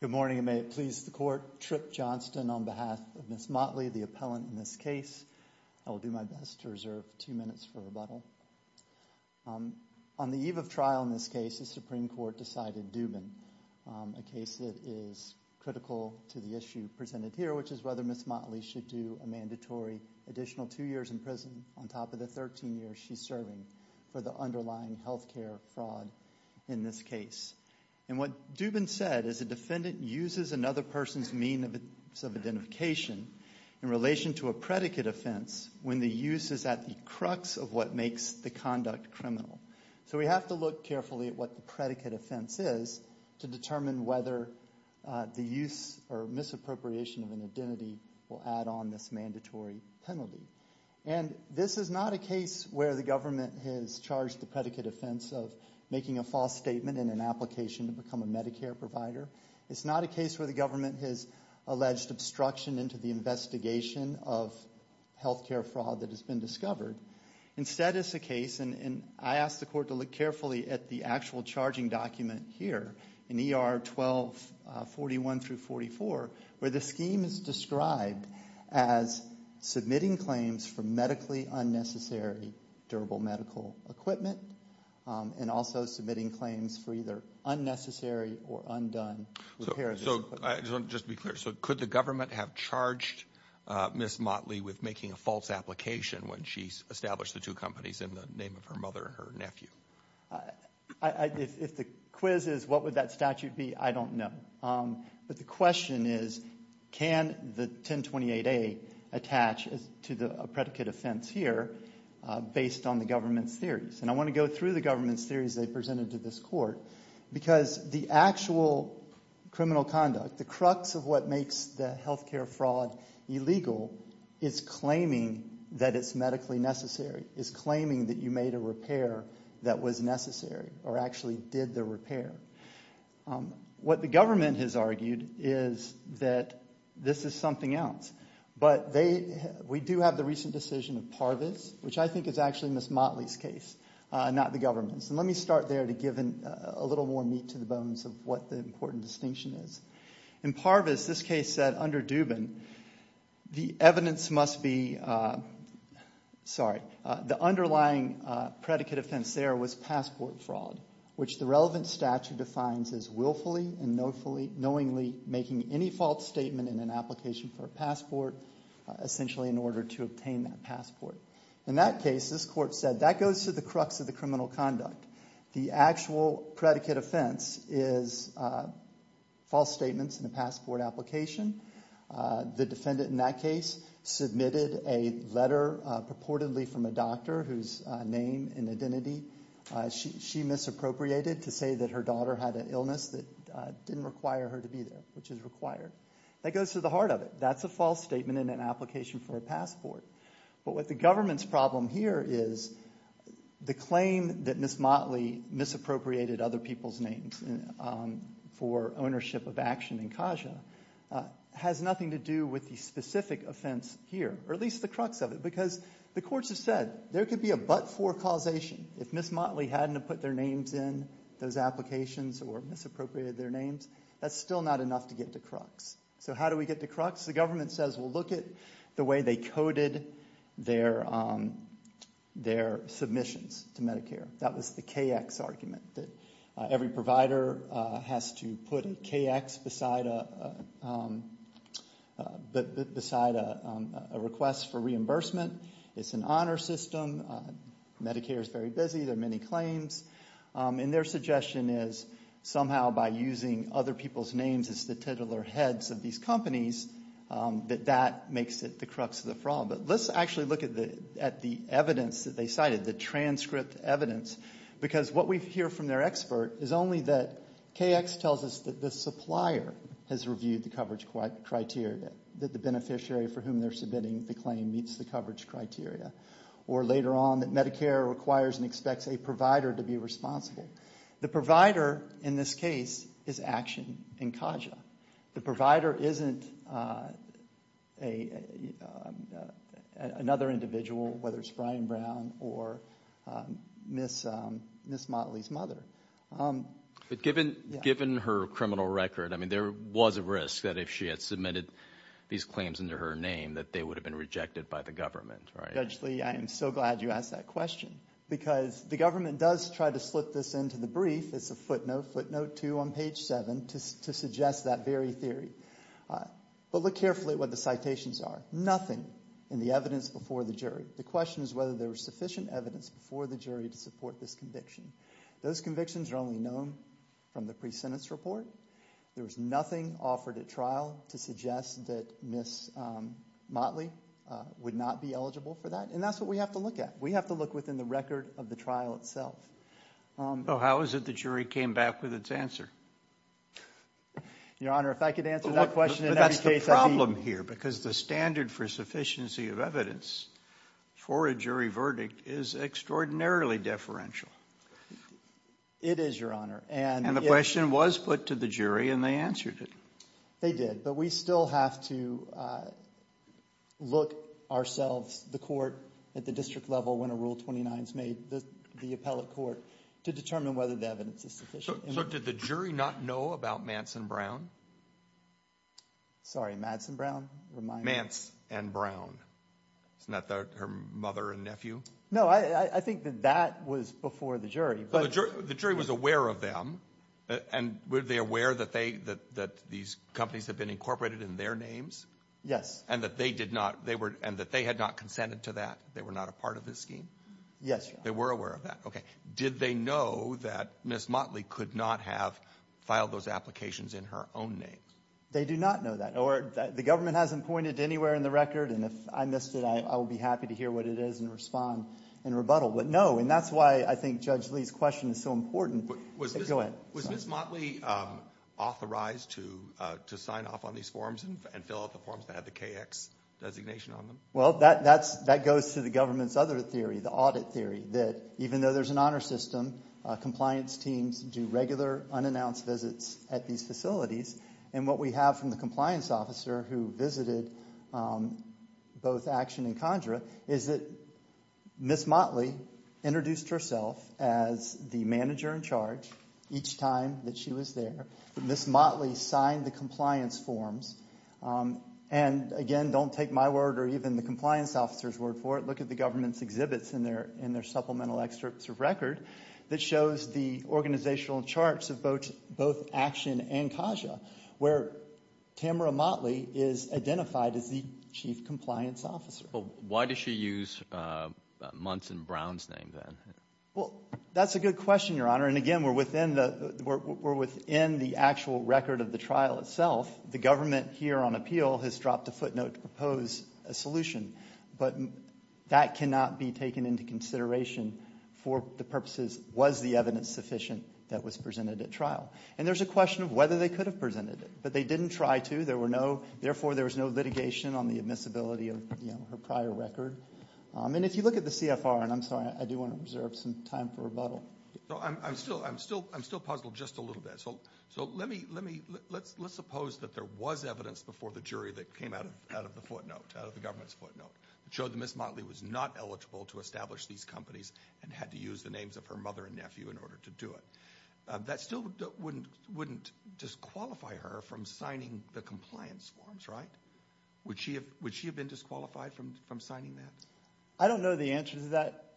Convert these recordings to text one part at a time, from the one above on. Good morning and may it please the court, Tripp Johnston on behalf of Ms. Motley, the appellant in this case. I will do my best to reserve two minutes for rebuttal. On the eve of trial in this case, the Supreme Court decided Dubin, a case that is critical to the issue presented here, which is whether Ms. Motley should do a mandatory additional two years in prison on top of the 13 years she's serving for the underlying health care fraud in this case. And what Dubin said is a defendant uses another person's means of identification in relation to a predicate offense when the use is at the crux of what makes the conduct criminal. So we have to look carefully at what the predicate offense is to determine whether the use or misappropriation of an identity will add on this mandatory penalty. And this is not a case where the government has charged the predicate offense of making a false statement in an application to become a Medicare provider. It's not a case where the government has alleged obstruction into the investigation of health care fraud that has been discovered. Instead it's a case, and I ask the court to look carefully at the actual charging document here in ER 1241-44 where the scheme is described as submitting claims for medically unnecessary durable medical equipment and also submitting claims for either unnecessary or undone repair of this equipment. So just to be clear, so could the government have charged Ms. Motley with making a false application when she established the two companies in the name of her mother and her nephew? If the quiz is what would that statute be, I don't know. But the question is can the 1028A attach to a predicate offense here based on the government's theories? And I want to go through the government's theories they presented to this court because the actual criminal conduct, the crux of what makes the health care fraud illegal is claiming that it's medically necessary, is claiming that you made a repair that was necessary or actually did the repair. What the government has argued is that this is something else. But we do have the recent decision of Parvis, which I think is actually Ms. Motley's case, not the government's. And let me start there to give a little more meat to the bones of what the important distinction is. In Parvis, this case said under Dubin, the evidence must be, sorry, the underlying predicate offense there was passport fraud, which the relevant statute defines as willfully and knowingly making any false statement in an application for a passport, essentially in order to obtain that passport. In that case, this court said that goes to the crux of the criminal conduct. The actual predicate offense is false statements in a passport application. The defendant in that case submitted a letter purportedly from a doctor whose name and identity she misappropriated to say that her daughter had an illness that didn't require her to be there, which is required. That goes to the heart of it. That's a false statement in an application for a passport. But what the government's problem here is the claim that Ms. Motley misappropriated other people's names for ownership of action in Kaja has nothing to do with the specific offense here, or at least the crux of it, because the courts have said there could be a but-for causation if Ms. Motley hadn't have put their names in those applications or misappropriated their names. That's still not enough to get to crux. So how do we get to crux? The government says, well, look at the way they coded their submissions to Medicare. That was the KX argument, that every provider has to put a KX beside a request for reimbursement. It's an honor system. Medicare is very busy. There are many claims. And their suggestion is somehow by using other people's names as the titular heads of these companies, that that makes it the crux of the problem. But let's actually look at the evidence that they cited, the transcript evidence, because what we hear from their expert is only that KX tells us that the supplier has reviewed the coverage criteria, that the beneficiary for whom they're submitting the claim meets the coverage criteria. Or later on, that Medicare requires and expects a provider to be responsible. The provider in this case is Action and Kaja. The provider isn't another individual, whether it's Brian Brown or Ms. Motley's mother. But given her criminal record, I mean, there was a risk that if she had submitted these claims under her name that they would have been rejected by the government, right? Judge Lee, I am so glad you asked that question, because the government does try to slip this into the brief. It's a footnote, footnote two on page seven, to suggest that very theory. But look carefully at what the citations are. Nothing in the evidence before the jury. The question is whether there was sufficient evidence before the jury to support this conviction. Those convictions are only known from the pre-sentence report. There was nothing offered at trial to suggest that Ms. Motley would not be eligible for that. And that's what we have to look at. We have to look within the record of the trial itself. So how is it the jury came back with its answer? Your Honor, if I could answer that question in every case, I'd be... But that's the problem here, because the standard for sufficiency of evidence for a jury verdict is extraordinarily deferential. It is, Your Honor. And the question was put to the jury, and they answered it. They did. But we still have to look ourselves, the court, at the district level when a Rule 29 is made, the appellate court, to determine whether the evidence is sufficient. So did the jury not know about Mance and Brown? Sorry, Madsen Brown? Mance and Brown. Isn't that her mother and nephew? No, I think that that was before the jury. So the jury was aware of them, and were they aware that these companies had been incorporated in their names? Yes. And that they had not consented to that? They were not a part of this scheme? Yes, Your Honor. They were aware of that. Okay. Did they know that Ms. Motley could not have filed those applications in her own name? They do not know that. Or the government hasn't pointed anywhere in the record, and if I missed it, I will be happy to hear what it is and respond in rebuttal. But no, and that's why I think Judge Lee's question is so important. Go ahead. Was Ms. Motley authorized to sign off on these forms and fill out the forms that had the KX designation on them? Well, that goes to the government's other theory, the audit theory, that even though there's an honor system, compliance teams do regular unannounced visits at these facilities. And what we have from the compliance officer who visited both Action and Conjura is that Ms. Motley introduced herself as the manager in charge each time that she was there. Ms. Motley signed the compliance forms. And again, don't take my word or even the compliance officer's word for it. Look at the government's exhibits in their supplemental excerpts of record that shows the organizational charts of both Action and Conjura, where Tamara Motley is identified as the chief compliance officer. Why does she use Muntz and Brown's name then? Well, that's a good question, Your Honor. And again, we're within the actual record of the trial itself. The government here on appeal has dropped a footnote to propose a solution. But that cannot be taken into consideration for the purposes, was the evidence sufficient that was presented at trial? And there's a question of whether they could have presented it. But they didn't try to. There were no, therefore there was no litigation on the admissibility of her prior record. And if you look at the CFR, and I'm sorry, I do want to reserve some time for rebuttal. I'm still puzzled just a little bit. So let's suppose that there was evidence before the jury that came out of the footnote, out of the government's footnote, that showed that Ms. Motley was not eligible to establish these companies and had to use the names of her mother and nephew in order to do it. That still wouldn't disqualify her from signing the compliance forms, right? Would she have been disqualified from signing that? I don't know the answer to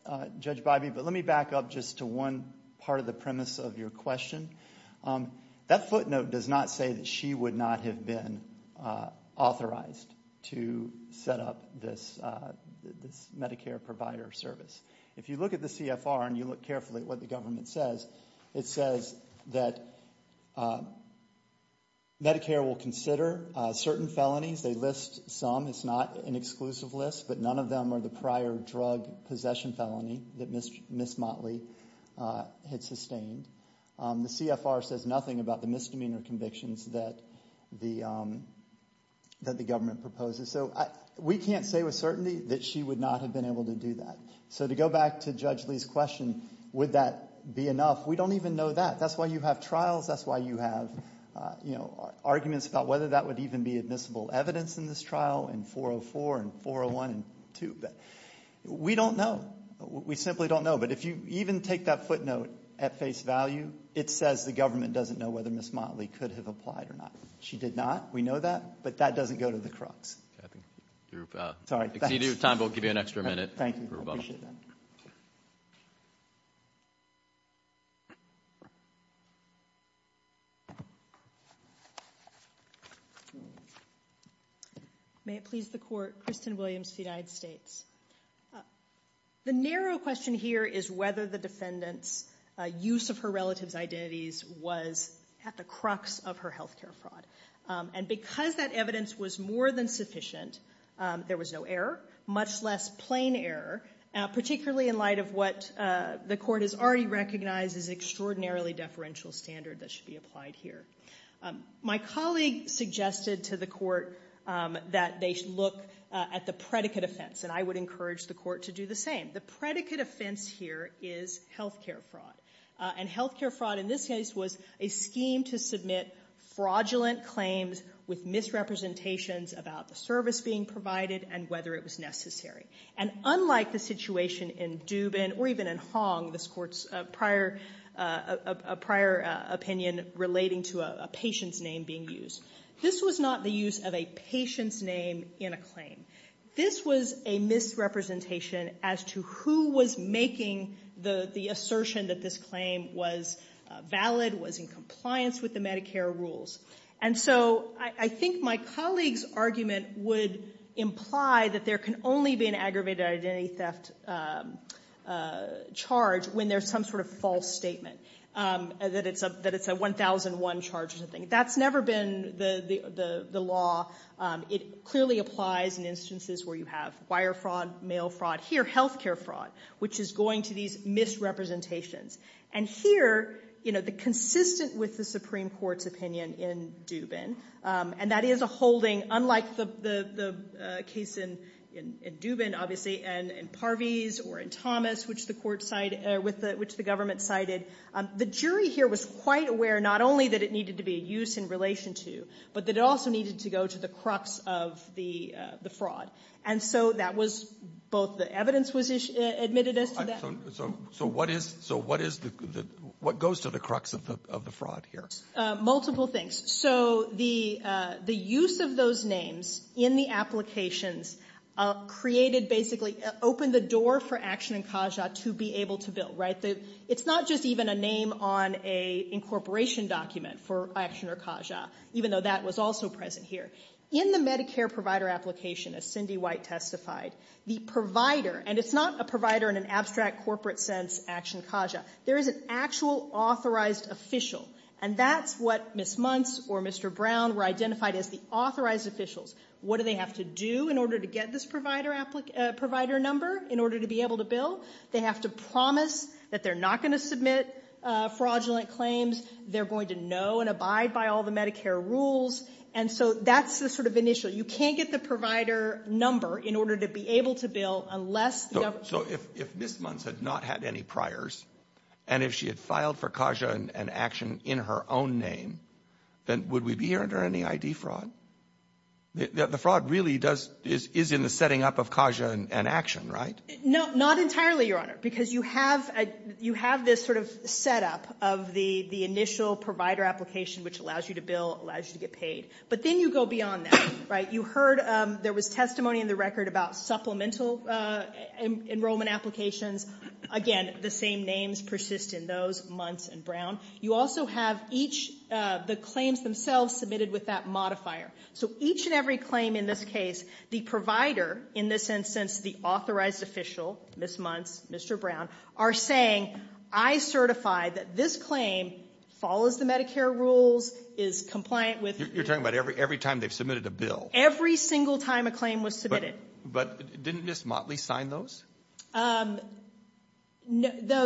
that, Judge Bybee, but let me back up just to one part of the premise of your question. That footnote does not say that she would not have been authorized to set up this Medicare provider service. If you look at the CFR and you look carefully at what the government says, it says that Medicare will consider certain felonies. They list some. It's not an exclusive list, but none of them are the prior drug possession felony that Ms. Motley had sustained. The CFR says nothing about the misdemeanor convictions that the government proposes. So we can't say with certainty that she would not have been able to do that. So to go back to Judge Lee's question, would that be enough? We don't even know that. That's why you have trials. That's why you have arguments about whether that would even be admissible evidence in this trial in 404 and 401 and 2. We don't know. We simply don't know. But if you even take that footnote at face value, it says the government doesn't know whether Ms. Motley could have applied or not. She did not. We know that, but that doesn't go to the crux. Exceeding your time, but we'll give you an extra minute for rebuttal. Thank you. I appreciate that. May it please the Court. Kristen Williams with the United States. The narrow question here is whether the defendant's use of her relative's identities was at the crux of her health care fraud. And because that evidence was more than sufficient, there was no error, much less plain error, particularly in light of what the Court has already recognized as extraordinarily deferential standard that should be applied here. My colleague suggested to the Court that they look at the predicate offense, and I would encourage the Court to do the same. The predicate offense here is health care fraud. And health care fraud in this case was a scheme to submit fraudulent claims with misrepresentations about the service being provided and whether it was necessary. And unlike the situation in Dubin or even in Hong, this Court's prior opinion relating to a patient's name being used, this was not the use of a patient's name in a claim. This was a misrepresentation as to who was making the assertion that this claim was valid, was in compliance with the Medicare rules. And so I think my colleague's argument would imply that there can only be an aggravated identity theft charge when there's some sort of false statement, that it's a 1001 charge or something. That's never been the law. It clearly applies in instances where you have wire fraud, mail fraud, here health care fraud, which is going to these misrepresentations. And here, you know, the consistent with the Supreme Court's opinion in Dubin, and that is a holding, unlike the case in Dubin, obviously, and in Parviz or in Thomas, which the government cited, the jury here was quite aware not only that it needed to be a use in relation to, but that it also needed to go to the crux of the fraud. And so that was both the evidence was admitted as to that. So what is the, what goes to the crux of the fraud here? Multiple things. So the use of those names in the applications created basically, opened the door for Action and Kaja to be able to bill, right? It's not just even a name on a incorporation document for Action or Kaja, even though that was also present here. In the Medicare provider application, as Cindy White testified, the provider, and it's not a provider in an abstract corporate sense, Action Kaja, there is an actual authorized official. And that's what Ms. Muntz or Mr. Brown were identified as the authorized officials. What do they have to do in order to get this provider number, in order to be able to bill? They have to promise that they're not going to submit fraudulent claims. They're going to know and abide by all the Medicare rules. And so that's the sort of initial. You can't get the provider number in order to be able to bill unless the government. So if Ms. Muntz had not had any priors, and if she had filed for Kaja and Action in her own name, then would we be hearing any ID fraud? The fraud really does, is in the setting up of Kaja and Action, right? No, not entirely, Your Honor, because you have this sort of setup of the initial provider application, which allows you to bill, allows you to get paid. But then you go beyond that. You heard there was testimony in the record about supplemental enrollment applications. Again, the same names persist in those, Muntz and Brown. You also have each of the claims themselves submitted with that modifier. So each and every claim in this case, the provider, in this instance, the authorized official, Ms. Muntz, Mr. Brown, are saying, I certify that this claim follows the Medicare rules, is compliant with. You're talking about every time they've submitted a bill? Every single time a claim was submitted. But didn't Ms. Motley sign those? No,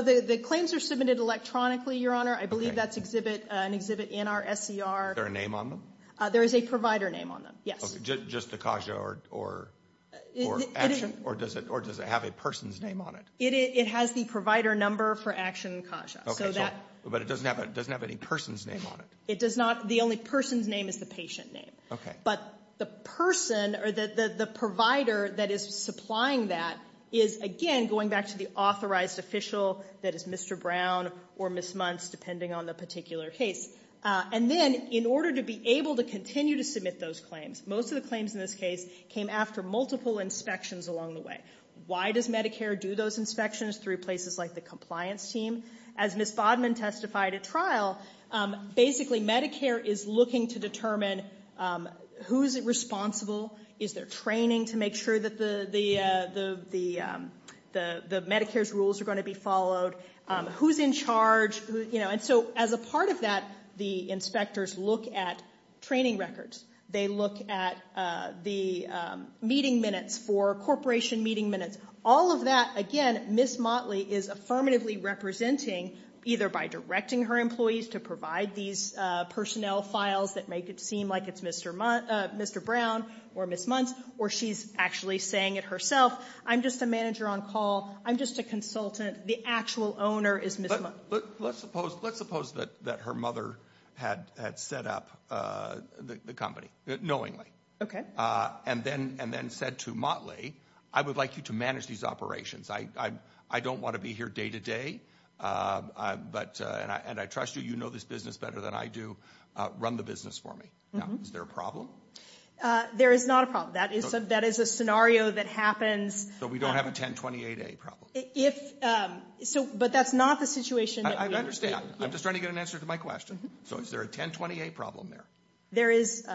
the claims are submitted electronically, Your Honor. I believe that's an exhibit in our SCR. Is there a name on them? There is a provider name on them, yes. Just the Kaja or Action? Or does it have a person's name on it? It has the provider number for Action and Kaja. But it doesn't have any person's name on it? It does not. The only person's name is the patient name. But the person or the provider that is supplying that is, again, going back to the authorized official, that is Mr. Brown or Ms. Muntz, depending on the particular case. And then, in order to be able to continue to submit those claims, most of the claims in this case came after multiple inspections along the way. Why does Medicare do those inspections? Through places like the compliance team? As Ms. Bodman testified at trial, basically, Medicare is looking to determine who is responsible? Is there training to make sure that the Medicare's rules are going to be followed? Who's in charge? And so, as a part of that, the inspectors look at training records. They look at the meeting minutes for corporation meeting minutes. All of that, again, Ms. Motley is affirmatively representing, either by directing her employees to provide these personnel files that make it seem like it's Mr. Brown or Ms. Muntz, or she's actually saying it herself, I'm just a manager on call. I'm just a consultant. The actual owner is Ms. Muntz. Let's suppose that her mother had set up the company, knowingly, and then said to Motley, I would like you to manage these operations. I don't want to be here day-to-day, and I trust you, you know this business better than I do. Run the business for me. Now, is there a problem? There is not a problem. That is a scenario that happens- So we don't have a 1028A problem? If, so, but that's not the situation that we- I understand. I'm just trying to get an answer to my question. So is there a 1028A problem there? There is.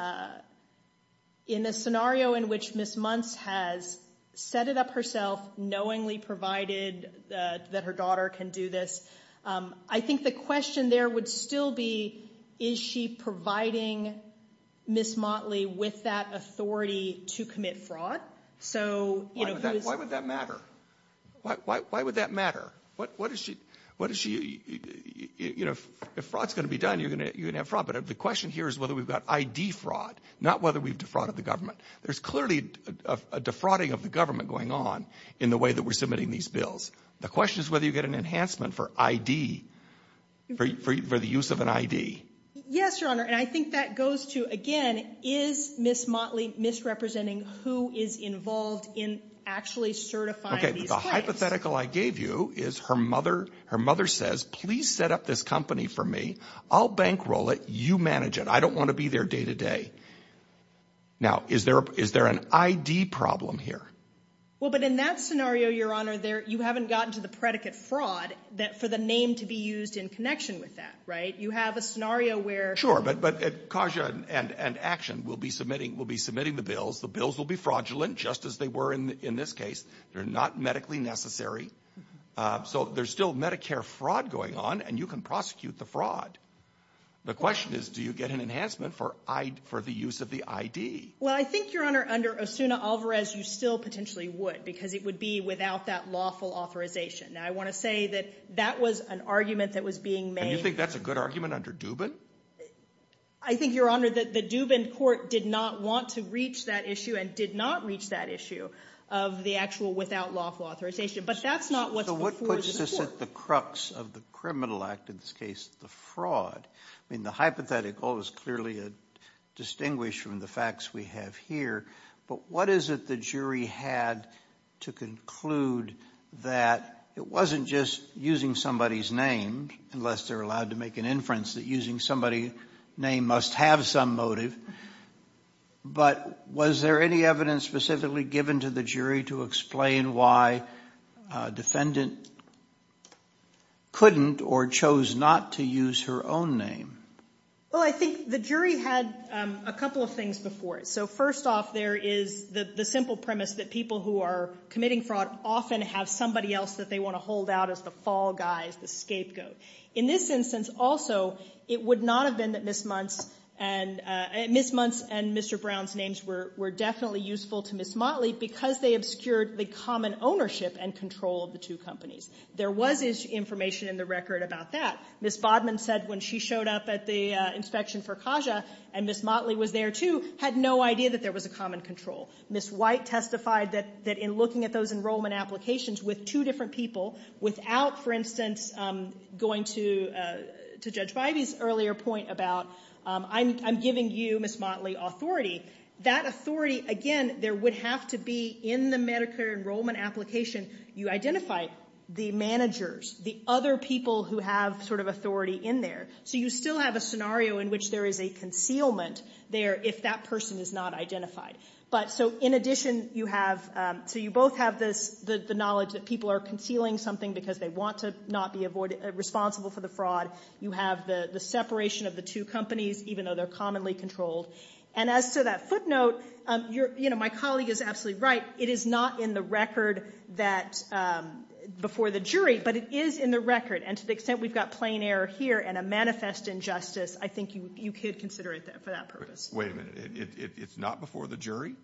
In a scenario in which Ms. Muntz has set it up herself, knowingly provided that her daughter can do this, I think the question there would still be, is she providing Ms. Motley with that authority to commit fraud? So, you know, who is- Why would that matter? What is she, you know, if fraud's going to be done, you're going to have fraud. But the question here is whether we've got ID fraud, not whether we've defrauded the government. There's clearly a defrauding of the government going on in the way that we're submitting these bills. The question is whether you get an enhancement for ID, for the use of an ID. Yes, Your Honor, and I think that goes to, again, is Ms. Motley misrepresenting who is involved in actually certifying these claims? The hypothetical I gave you is her mother, her mother says, please set up this company for me. I'll bankroll it. You manage it. I don't want to be there day to day. Now, is there, is there an ID problem here? Well, but in that scenario, Your Honor, there, you haven't gotten to the predicate fraud that for the name to be used in connection with that, right? You have a scenario where- Sure, but, but Kaja and Action will be submitting, will be submitting the bills. The bills will be fraudulent just as they were in this case. They're not medically necessary. So there's still Medicare fraud going on and you can prosecute the fraud. The question is, do you get an enhancement for ID, for the use of the ID? Well, I think, Your Honor, under Osuna Alvarez, you still potentially would because it would be without that lawful authorization. Now, I want to say that that was an argument that was being made- And you think that's a good argument under Dubin? I think, Your Honor, that the Dubin court did not want to reach that issue and did not reach that issue of the actual without lawful authorization. But that's not what's before the court. So what puts us at the crux of the criminal act, in this case, the fraud? I mean, the hypothetical is clearly distinguished from the facts we have here. But what is it the jury had to conclude that it wasn't just using somebody's name, unless they're allowed to inference that using somebody's name must have some motive. But was there any evidence specifically given to the jury to explain why a defendant couldn't or chose not to use her own name? Well, I think the jury had a couple of things before it. So first off, there is the simple premise that people who are committing fraud often have somebody else that they want to out as the fall guy, the scapegoat. In this instance also, it would not have been that Ms. Muntz and Mr. Brown's names were definitely useful to Ms. Motley because they obscured the common ownership and control of the two companies. There was information in the record about that. Ms. Bodman said when she showed up at the inspection for Kaja, and Ms. Motley was there too, had no idea that there was a common control. Ms. White testified that in looking at those enrollment applications with two different people, without, for instance, going to Judge Bivey's earlier point about, I'm giving you, Ms. Motley, authority. That authority, again, there would have to be in the Medicare enrollment application, you identify the managers, the other people who have sort of authority in there. So you still have a scenario in which there is a concealment there if that person is not identified. But so in addition, you have, so you both have this, the knowledge that people are concealing something because they want to not be responsible for the fraud. You have the separation of the two companies, even though they're commonly controlled. And as to that footnote, my colleague is absolutely right. It is not in the record that, before the jury, but it is in the record. And to the extent we've got plain error here and a manifest injustice, I think you could consider it for that purpose. Wait a minute. It's not before the jury?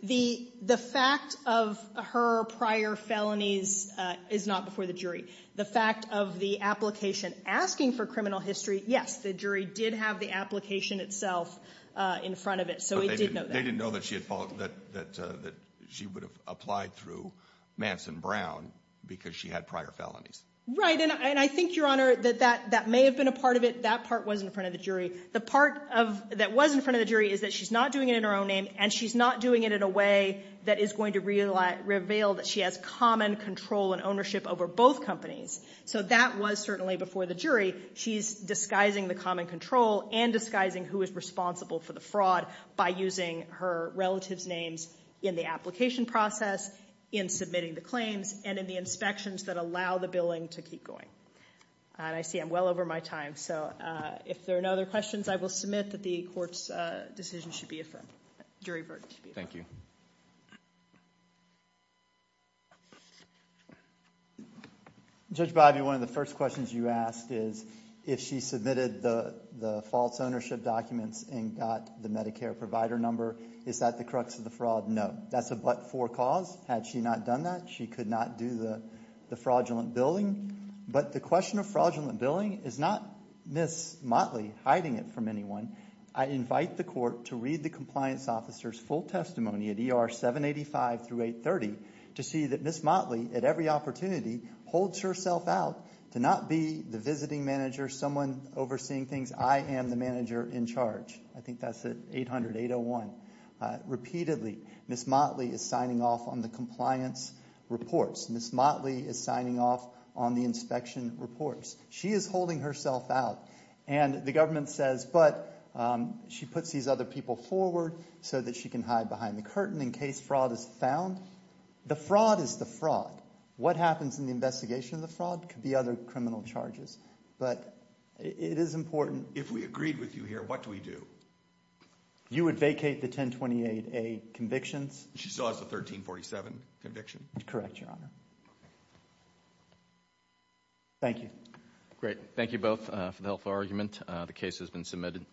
The fact of her prior felonies is not before the jury. The fact of the application asking for criminal history, yes, the jury did have the application itself in front of it. So it did know that. They didn't know that she had followed, that she would have applied through Manson Brown because she had prior felonies. Right. And I think, Your Honor, that that may have been a part of it. That part was in front of the jury. The part that was in front of the jury is that she's not doing it in her own name and she's not doing it in a way that is going to reveal that she has common control and ownership over both companies. So that was certainly before the jury. She's disguising the common control and disguising who is responsible for the fraud by using her relatives' names in the application process, in submitting the claims and in the inspections that allow the billing to keep going. And I see I'm well over my time. So if there are no other questions, I will submit that the court's decision should be affirmed. Jury verdict should be affirmed. Judge Bobbie, one of the first questions you asked is if she submitted the false ownership documents and got the Medicare provider number, is that the crux of the fraud? No, that's a but-for cause. Had she not done that, she could not do the fraudulent billing. But the question of fraudulent billing is not Ms. Motley hiding it from anyone. I invite the court to read the compliance officer's full testimony at ER 785 through 830 to see that Ms. Motley, at every opportunity, holds herself out to not be the visiting manager, someone overseeing things. I am the manager in charge. I think that's at 800-801. Repeatedly, Ms. Motley is signing off on the compliance reports. Ms. Motley is signing off on the inspection reports. She is holding herself out. And the government says, but she puts these other people forward so that she can hide behind the curtain in case fraud is found. The fraud is the fraud. What happens in the investigation of the fraud could be other criminal charges. But it is important. If we agreed with you here, what do we do? You would vacate the 1028A convictions. She still has the 1347 conviction. Correct, Your Honor. Thank you. Great. Thank you both for the helpful argument. The case has been submitted.